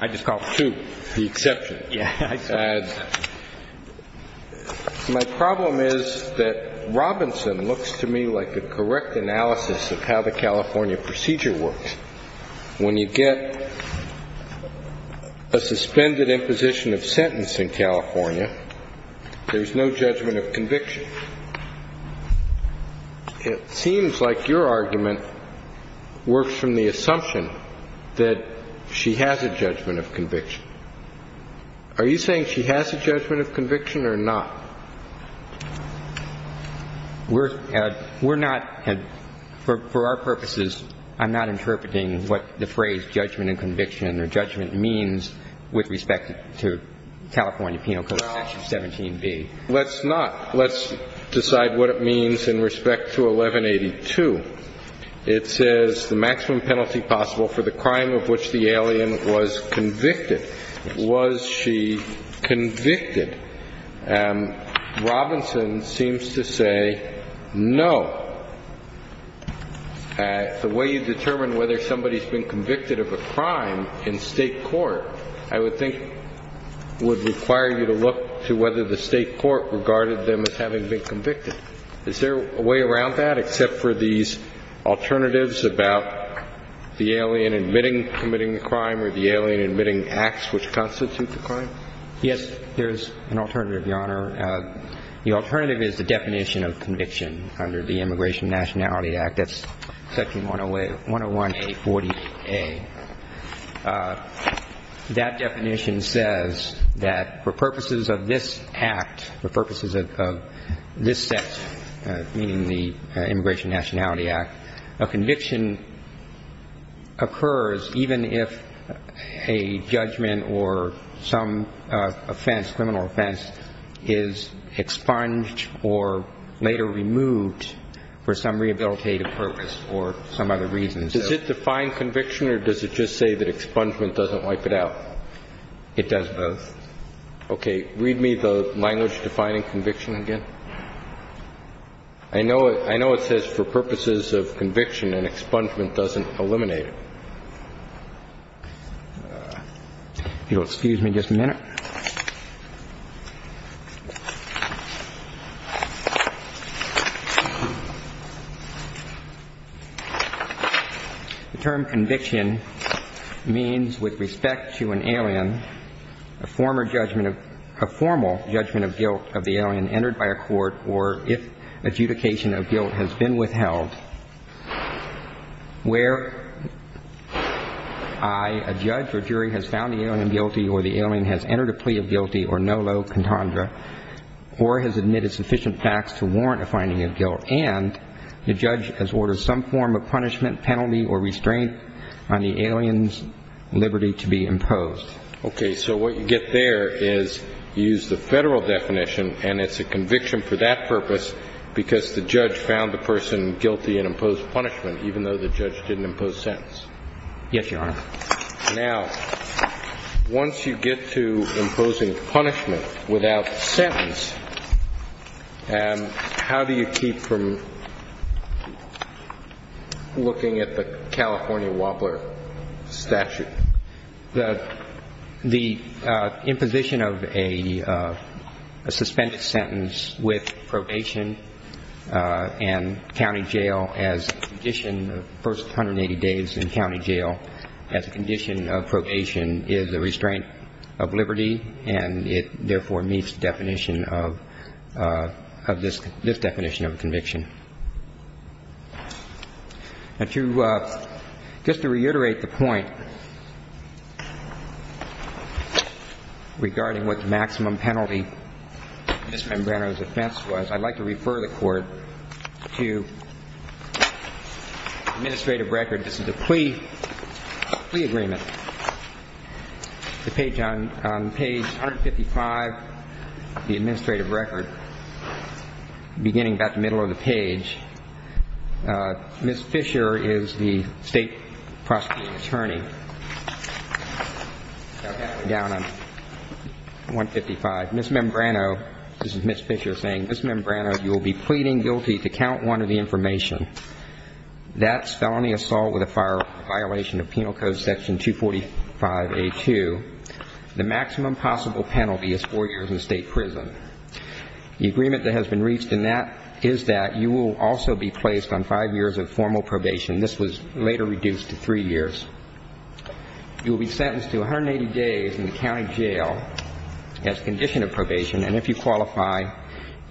I just called it. 2, the exception. Yeah, I saw it. My problem is that Robinson looks to me like a correct analysis of how the California procedure works. When you get a suspended imposition of sentence in California, there's no judgment of conviction. It seems like your argument works from the assumption that she has a judgment of conviction. Are you saying she has a judgment of conviction or not? We're not, for our purposes, I'm not interpreting what the phrase judgment of conviction or judgment means with respect to California Penal Code section 17b. Well, let's not. Let's decide what it means in respect to 1182. It says the maximum penalty possible for the crime of which the alien was convicted. Was she convicted? Robinson seems to say no. The way you determine whether somebody's been convicted of a crime in state court, I would think would require you to look to whether the state court regarded them as having been convicted. Is there a way around that except for these alternatives about the alien admitting committing the crime or the alien admitting acts which constitute the crime? Yes, there is an alternative, Your Honor. The alternative is the definition of conviction under the Immigration Nationality Act. That's section 101A. That definition says that for purposes of this act, for purposes of this set, meaning the Immigration Nationality Act, a conviction occurs even if a judgment or some offense, criminal offense, is expunged or later removed for some rehabilitative purpose or some other reason. Does it define conviction or does it just say that expungement doesn't wipe it out? It does both. Okay. Read me the language defining conviction again. I know it says for purposes of conviction and expungement doesn't eliminate it. If you'll excuse me just a minute. The term conviction means with respect to an alien, a formal judgment of guilt of the alien entered by a court or if adjudication of guilt has been withheld where I, a judge or jury, has found the alien guilty or the alien has entered a plea of guilty or no low contundra or has admitted sufficient facts to warrant a finding of guilt and the judge has ordered some form of punishment, penalty or restraint on the alien's liberty to be imposed. Okay. So what you get there is you use the federal definition and it's a conviction for that purpose because the judge found the person guilty and imposed punishment even though the judge didn't impose sentence. Yes, Your Honor. Now, once you get to imposing punishment without sentence, how do you keep from looking at the California Wobbler statute? The imposition of a suspended sentence with probation and county jail as a condition of the first 180 days in county jail as a condition of probation is a restraint of liberty and it therefore meets the definition of this definition of conviction. Now, just to reiterate the point regarding what the maximum penalty in Ms. Membrano's offense was, I'd like to refer the Court to the administrative record. This is a plea agreement. On page 155 of the administrative record, beginning about the middle of the page, Ms. Fisher is the state prosecuting attorney. Down on 155, Ms. Membrano, this is Ms. Fisher saying, Ms. Membrano, you will be pleading guilty to count one of the information. That's felony assault with a violation of penal code section 245A2. The maximum possible penalty is four years in state prison. The agreement that has been reached in that is that you will also be placed on five years of formal probation. This was later reduced to three years. You will be sentenced to 180 days in the county jail as a condition of probation, and if you qualify,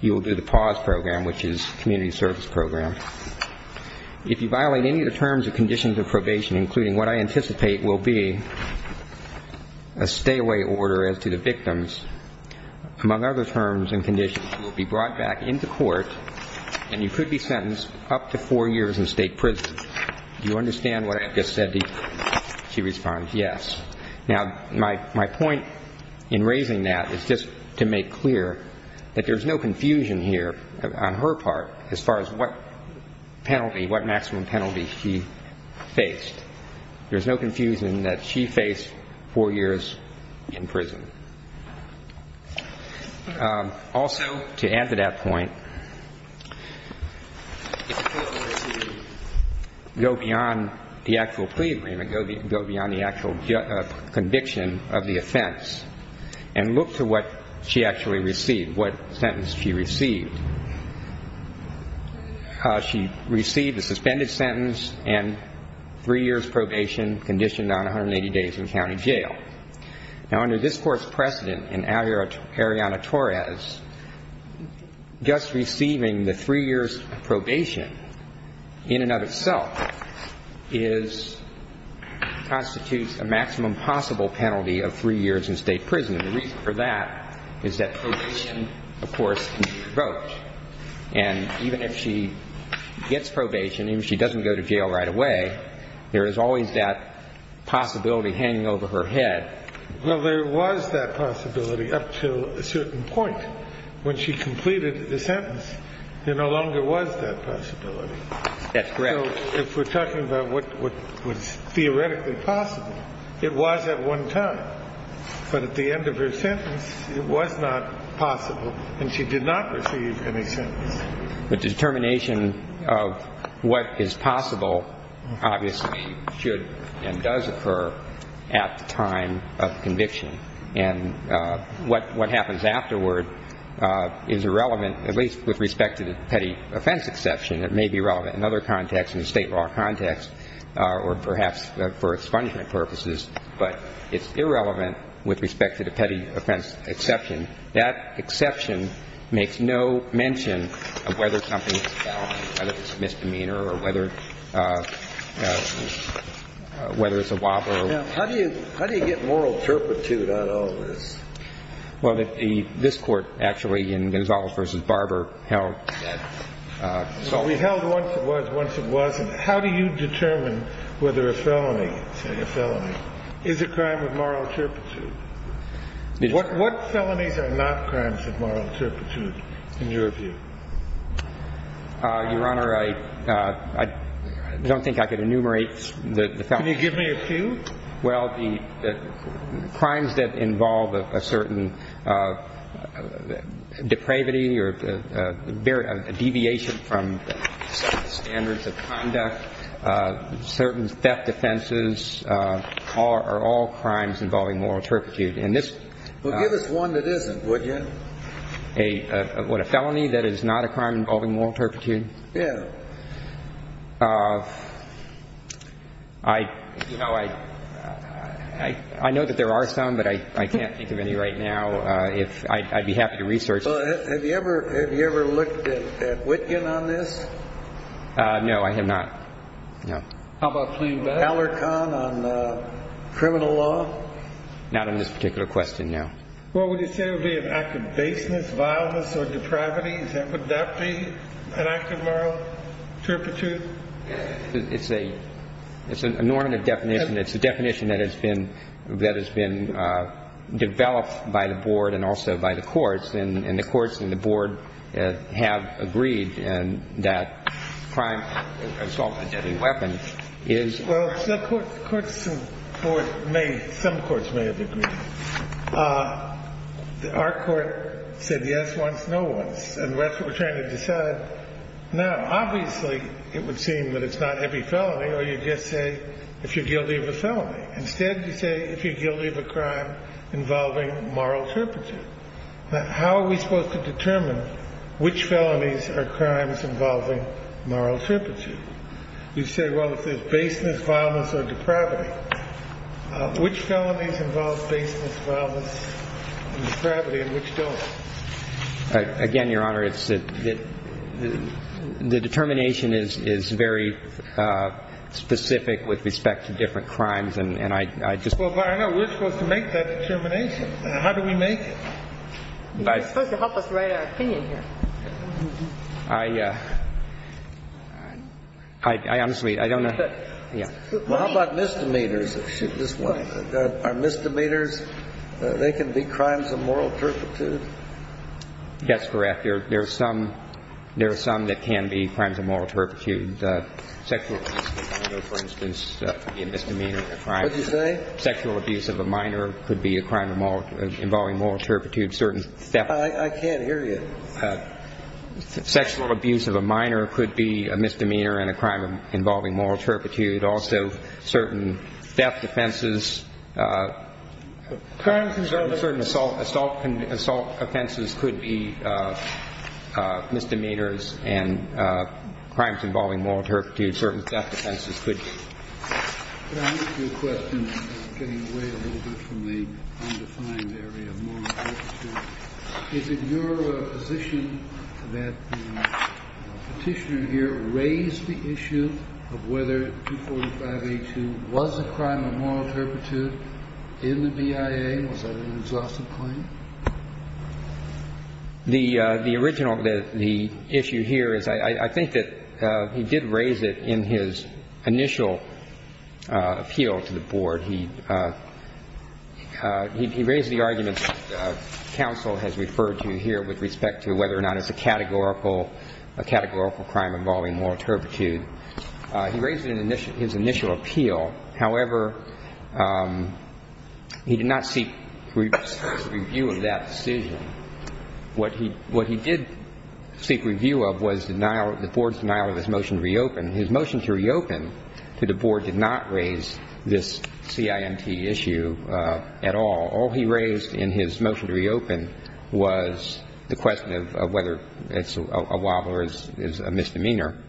you will do the PAWS program, which is community service program. If you violate any of the terms and conditions of probation, including what I anticipate will be a stay-away order as to the victims, among other terms and conditions, you will be brought back into court and you could be sentenced up to four years in state prison. Do you understand what I've just said? She responds, yes. Now, my point in raising that is just to make clear that there's no confusion here on her part as far as what penalty, what maximum penalty she faced. There's no confusion that she faced four years in prison. Also, to add to that point, go beyond the actual plea agreement, go beyond the actual conviction of the offense, and look to what she actually received, what sentence she received. She received a suspended sentence and three years probation, conditioned on 180 days in county jail. Now, under this Court's precedent in Ariana Torres, just receiving the three years of probation in and of itself constitutes a maximum possible penalty of three years in state prison, and the reason for that is that probation, of course, can be provoked. And even if she gets probation, even if she doesn't go to jail right away, there is always that possibility hanging over her head. Well, there was that possibility up to a certain point. When she completed the sentence, there no longer was that possibility. That's correct. So if we're talking about what was theoretically possible, it was at one time. But at the end of her sentence, it was not possible, and she did not receive any sentence. The determination of what is possible obviously should and does occur at the time of conviction. And what happens afterward is irrelevant, at least with respect to the petty offense exception. It may be relevant in other contexts, in the state law context, or perhaps for expungement purposes, but it's irrelevant with respect to the petty offense exception. That exception makes no mention of whether something is a felony, whether it's a misdemeanor or whether it's a robbery. Now, how do you get moral turpitude on all of this? Well, this Court actually in Gonzales v. Barber held that. We held once it was, once it wasn't. How do you determine whether a felony, say a felony, is a crime with moral turpitude? What felonies are not crimes of moral turpitude in your view? Your Honor, I don't think I could enumerate the felonies. Can you give me a few? Well, the crimes that involve a certain depravity or a deviation from certain standards of conduct, certain theft offenses are all crimes involving moral turpitude. Well, give us one that isn't, would you? What, a felony that is not a crime involving moral turpitude? Yeah. You know, I know that there are some, but I can't think of any right now. I'd be happy to research. Well, have you ever looked at Witkin on this? No, I have not. No. How about Aller-Kahn on criminal law? Not on this particular question, no. Well, would you say it would be an act of baseness, vileness, or depravity? Would that be an act of moral turpitude? It's an inordinate definition. It's a definition that has been developed by the Board and also by the courts, and the courts and the Board have agreed that crime involved a deadly weapon is... Well, some courts may have agreed. Our court said yes once, no once, and that's what we're trying to decide now. Obviously, it would seem that it's not every felony or you just say if you're guilty of a felony. Instead, you say if you're guilty of a crime involving moral turpitude. Now, how are we supposed to determine which felonies are crimes involving moral turpitude? You say, well, if there's baseness, vileness, or depravity, which felonies involve baseness, vileness, and depravity, and which don't? Again, Your Honor, the determination is very specific with respect to different crimes, and I just... You're supposed to help us write our opinion here. I honestly, I don't know. Well, how about misdemeanors? Are misdemeanors, they can be crimes of moral turpitude? That's correct. There are some that can be crimes of moral turpitude. Sexual abuse of a minor, for instance, could be a misdemeanor of a crime. What did you say? Sexual abuse of a minor could be a crime involving moral turpitude. I can't hear you. Sexual abuse of a minor could be a misdemeanor and a crime involving moral turpitude. Also, certain theft offenses, certain assault offenses could be misdemeanors, and crimes involving moral turpitude, certain theft offenses could be. Could I ask you a question? I'm getting away a little bit from the undefined area of moral turpitude. Is it your position that the Petitioner here raised the issue of whether 245A2 was a crime of moral turpitude in the BIA? Was that an exhaustive claim? The original, the issue here is I think that he did raise it in his initial appeal to the Board. He raised the argument that counsel has referred to here with respect to whether or not it's a categorical, a categorical crime involving moral turpitude. He raised it in his initial appeal. However, he did not seek review of that decision. What he did seek review of was the Board's denial of his motion to reopen. His motion to reopen to the Board did not raise this CIMT issue at all. All he raised in his motion to reopen was the question of whether a wobbler is a misdemeanor.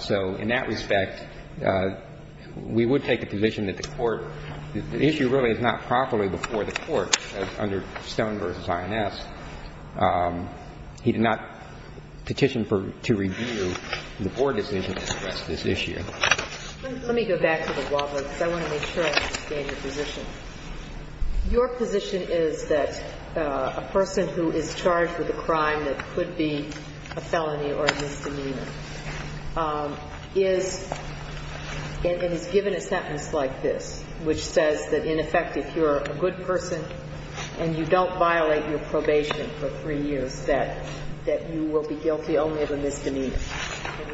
So in that respect, we would take the position that the Court – the issue really is not properly before the Court under Stone v. INS. He did not petition to review the Board decision to address this issue. Let me go back to the wobbler, because I want to make sure I understand your position. Your position is that a person who is charged with a crime that could be a felony or a misdemeanor is – and is given a sentence like this, which says that, in effect, if you're a good person and you don't violate your probation for three years, that you will be guilty only of a misdemeanor.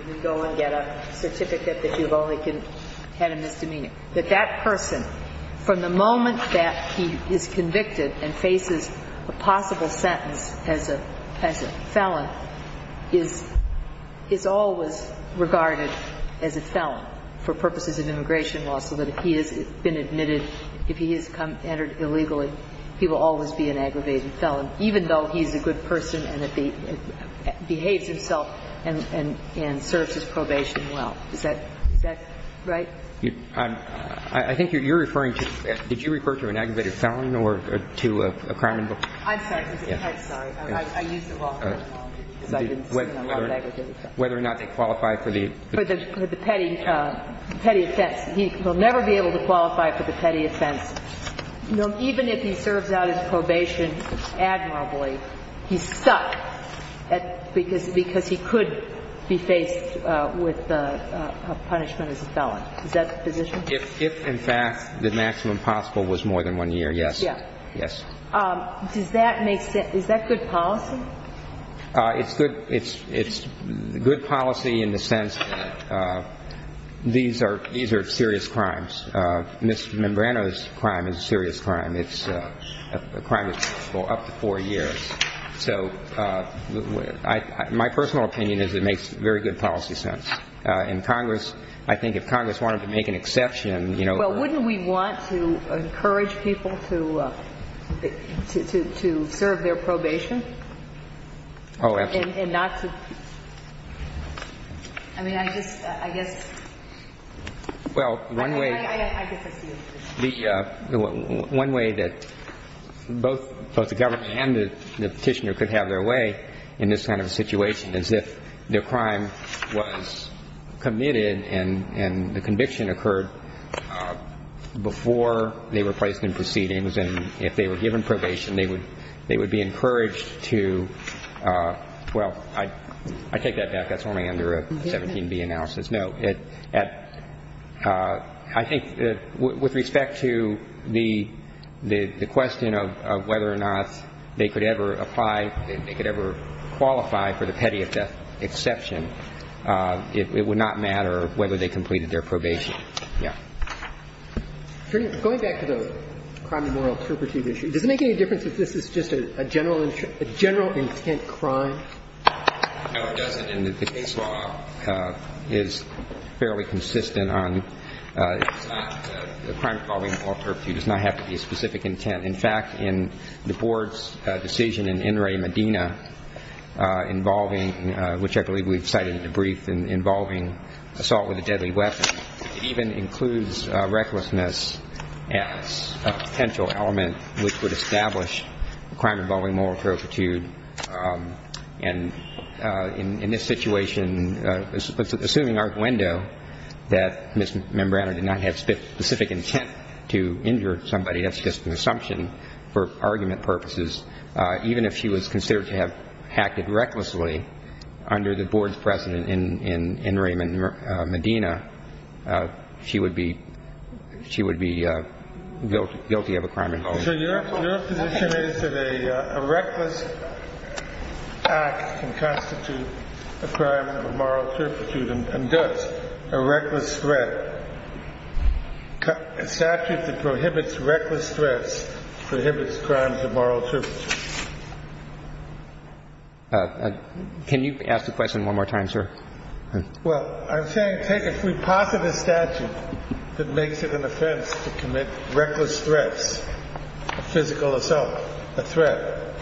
You go and get a certificate that you've only had a misdemeanor. That that person, from the moment that he is convicted and faces a possible sentence as a – as a felon, is – is always regarded as a felon for purposes of immigration law, so that if he has been admitted, if he has entered illegally, he will always be an aggravated felon, even though he's a good person and behaves himself and – and serves his probation well. Is that – is that right? I think you're referring to – did you refer to an aggravated felon or to a crime before? I'm sorry. I'm sorry. I used it wrong. Because I didn't see an unlawful aggravated felon. Whether or not they qualify for the – For the petty – petty offense. He will never be able to qualify for the petty offense. Even if he serves out his probation admirably, he's stuck because – because he could be faced with a punishment as a felon. Is that the position? If, in fact, the maximum possible was more than one year, yes. Yes. Does that make sense – is that good policy? It's good – it's – it's good policy in the sense that these are – these are serious crimes. Mr. Membrano's crime is a serious crime. It's a crime that's up to four years. So I – my personal opinion is it makes very good policy sense. In Congress, I think if Congress wanted to make an exception, you know – Wouldn't we want to encourage people to – to serve their probation? Oh, absolutely. And not to – I mean, I just – I guess – Well, one way – I guess I see what you're saying. The – one way that both the government and the petitioner could have their way in this kind of a situation is if their crime was committed and – and the conviction occurred before they were placed in proceedings, and if they were given probation, they would – they would be encouraged to – well, I take that back. That's only under a 17B analysis. No. At – I think with respect to the – the question of whether or not they could ever apply – they could ever qualify for the petty exception, it would not matter whether they completed their probation. Yeah. Going back to the crime of moral turpitude issue, does it make any difference if this is just a general – a general intent crime? No, it doesn't. And the case law is fairly consistent on – it's not a crime involving moral turpitude. It does not have to be a specific intent. In fact, in the board's decision in In re Medina involving – which I believe we've cited in the brief involving assault with a deadly weapon, it even includes recklessness as a potential element which would establish a crime involving moral turpitude. And in this situation, assuming arguendo that Ms. Membrano did not have specific intent to injure somebody, that's just an assumption for argument purposes, even if she was considered to have acted recklessly under the board's precedent in – in – in re Medina, she would be – she would be guilty of a crime involving moral turpitude. So your – your position is that a – a reckless act can constitute a crime of moral turpitude and thus a reckless threat – a statute that prohibits reckless threats prohibits crimes of moral turpitude? Can you ask the question one more time, sir? Well, I'm saying take a prepositive statute that makes it an offense to commit reckless threats, a physical assault, a threat,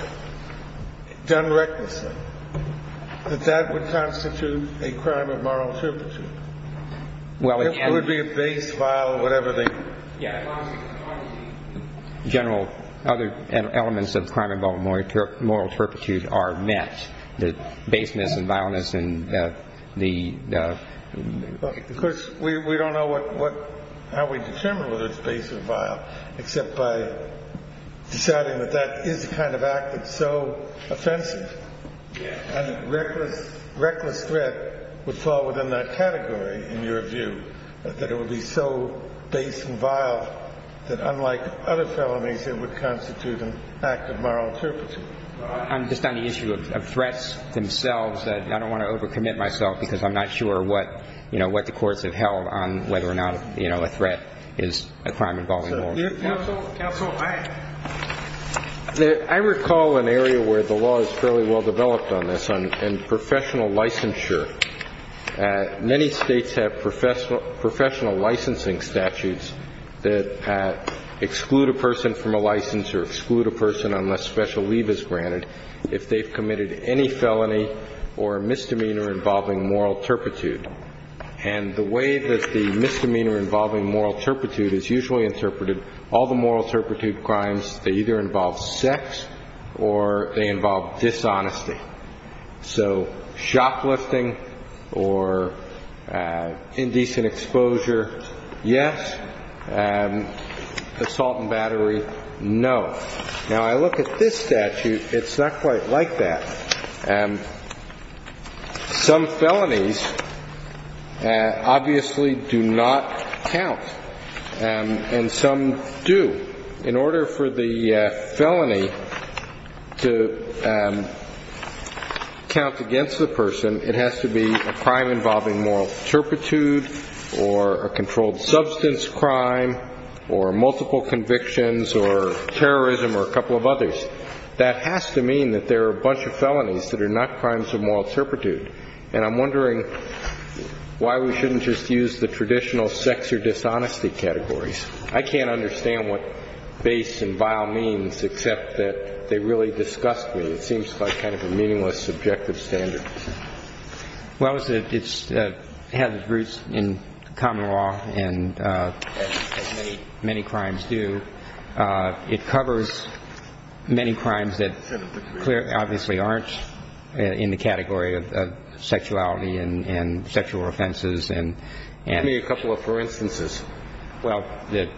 done recklessly, that that would constitute a crime of moral turpitude. Well, again – It would be a base, vile, whatever the – Yeah. General other elements of crime involving moral turpitude are met, the baseness and vileness and the – Of course, we – we don't know what – what – how we determine whether it's base or vile, except by deciding that that is the kind of act that's so offensive and reckless – reckless threat would fall within that category, in your view, that it would be so base and vile that unlike other felonies, it would constitute an act of moral turpitude. I'm just on the issue of threats themselves. I don't want to overcommit myself because I'm not sure what, you know, what the courts have held on whether or not, you know, a threat is a crime involving moral turpitude. Counsel, go ahead. I recall an area where the law is fairly well developed on this, on professional licensure. Many states have professional licensing statutes that exclude a person from a license unless special leave is granted if they've committed any felony or misdemeanor involving moral turpitude. And the way that the misdemeanor involving moral turpitude is usually interpreted, all the moral turpitude crimes, they either involve sex or they involve dishonesty. So, shoplifting or indecent exposure, yes. Assault and battery, no. Now, I look at this statute, it's not quite like that. Some felonies obviously do not count, and some do. In order for the felony to count against the person, it has to be a crime involving moral turpitude or a controlled substance crime or multiple convictions or terrorism or a couple of others. That has to mean that there are a bunch of felonies that are not crimes of moral turpitude. And I'm wondering why we shouldn't just use the traditional sex or dishonesty categories. I can't understand what base and vile means except that they really disgust me. It seems like kind of a meaningless subjective standard. Well, it has its roots in common law, as many crimes do. It covers many crimes that obviously aren't in the category of sexuality and sexual offenses. Give me a couple of for instances. Well, the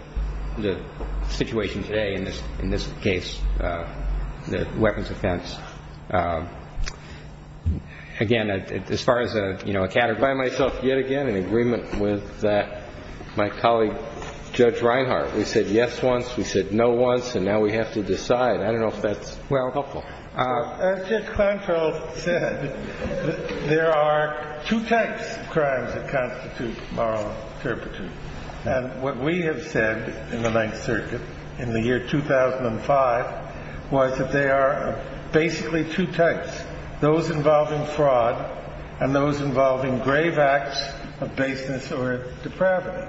situation today in this case, the weapons offense. Again, as far as a category. I find myself yet again in agreement with my colleague Judge Reinhart. We said yes once, we said no once, and now we have to decide. I don't know if that's helpful. As Judge Kleinfeld said, there are two types of crimes that constitute moral turpitude. And what we have said in the Ninth Circuit in the year 2005 was that there are basically two types. Those involving fraud and those involving grave acts of baseness or depravity.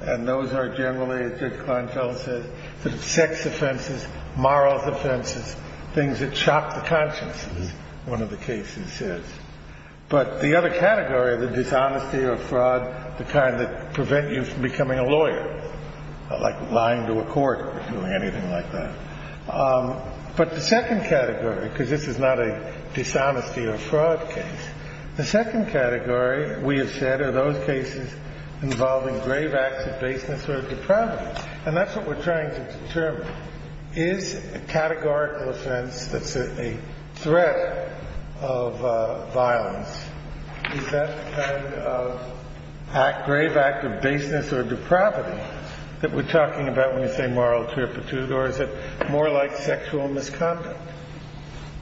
And those are generally, as Judge Kleinfeld said, the sex offenses, moral offenses, things that shock the conscience, as one of the cases says. But the other category, the dishonesty or fraud, the kind that prevent you from becoming a lawyer, like lying to a court or doing anything like that. But the second category, because this is not a dishonesty or fraud case, the second category, we have said, are those cases involving grave acts of baseness or depravity. And that's what we're trying to determine. Is a categorical offense that's a threat of violence, is that the kind of grave act of baseness or depravity that we're talking about when we say moral turpitude, or is it more like sexual misconduct?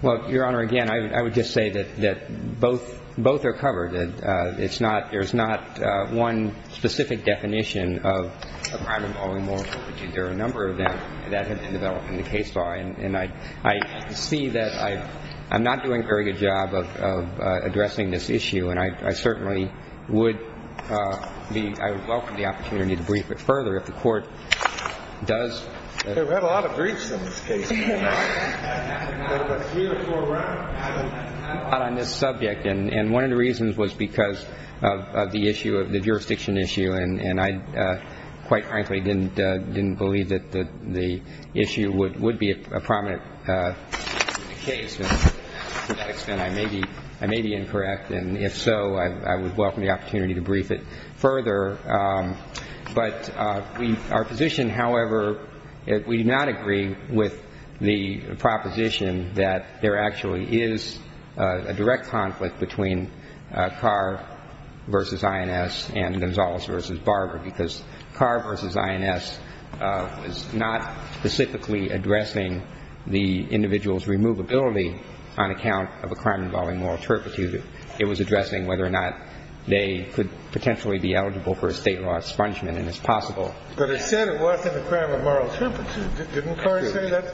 Well, Your Honor, again, I would just say that both are covered. There's not one specific definition of crime involving moral turpitude. There are a number of them that have been developed in the case law. And I see that I'm not doing a very good job of addressing this issue, and I certainly would welcome the opportunity to brief it further if the Court does. We've had a lot of briefs on this case. We've had about three or four rounds. I'm not on this subject, and one of the reasons was because of the issue of the jurisdiction issue, and I quite frankly didn't believe that the issue would be a prominent case. To that extent, I may be incorrect. And if so, I would welcome the opportunity to brief it further. But our position, however, we do not agree with the proposition that there actually is a direct conflict between Carr v. INS and Gonzalez v. Barber, because Carr v. INS was not specifically addressing the individual's removability on account of a crime involving moral turpitude. It was addressing whether or not they could potentially be eligible for a state law expungement, and it's possible. But it said it wasn't a crime of moral turpitude. Didn't Carr say that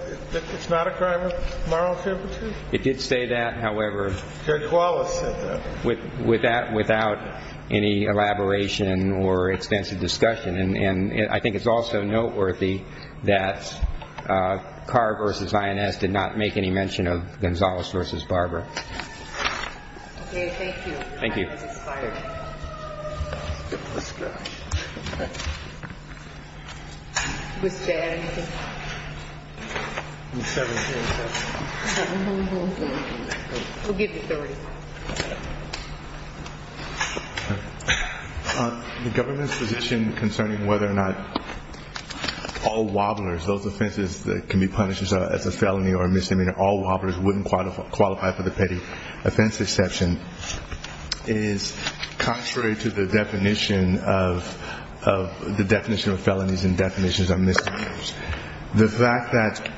it's not a crime of moral turpitude? It did say that, however. Judge Wallace said that. Without any elaboration or extensive discussion. And I think it's also noteworthy that Carr v. INS did not make any mention of Gonzalez v. Barber. Okay. Thank you. Thank you. Time has expired. Let's go. Okay. Mr. Adams. I'm 17. We'll give you 30. The government's position concerning whether or not all wobblers, those offenses that can be punished as a felony or a misdemeanor, all wobblers wouldn't qualify for the petty offense exception is contrary to the definition of felonies and definitions of misdemeanors. The fact that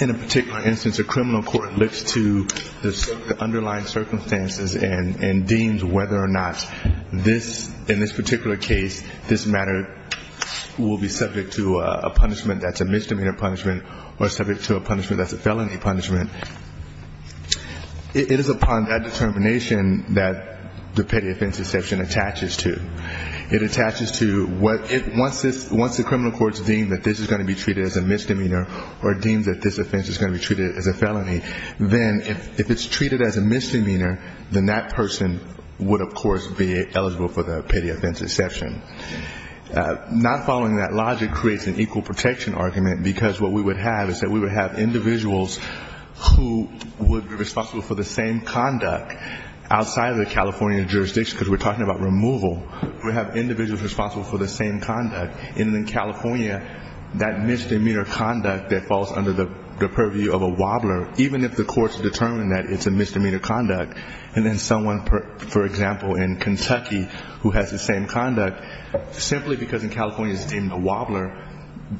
in a particular instance a criminal court looks to the underlying circumstances and deems whether or not in this particular case this matter will be subject to a punishment that's a misdemeanor punishment or subject to a punishment that's a felony punishment, it is upon that determination that the petty offense exception attaches to. It attaches to once the criminal courts deem that this is going to be treated as a misdemeanor or deem that this offense is going to be treated as a felony, then if it's treated as a misdemeanor, then that person would, of course, be eligible for the petty offense exception. Not following that logic creates an equal protection argument, because what we would have is that we would have individuals who would be responsible for the same conduct outside of the California jurisdiction, because we're talking about removal. We would have individuals responsible for the same conduct. And in California, that misdemeanor conduct that falls under the purview of a wobbler, even if the courts determine that it's a misdemeanor conduct, and then someone, for example, in Kentucky who has the same conduct, simply because in California it's deemed a wobbler,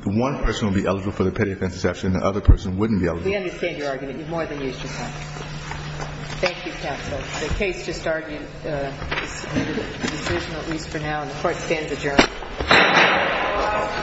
one person would be eligible for the petty offense exception and the other person wouldn't be eligible. We understand your argument. You've more than used your time. Thank you, counsel. The case just argued. It's a decision, at least for now. And the court stands adjourned. Thank you.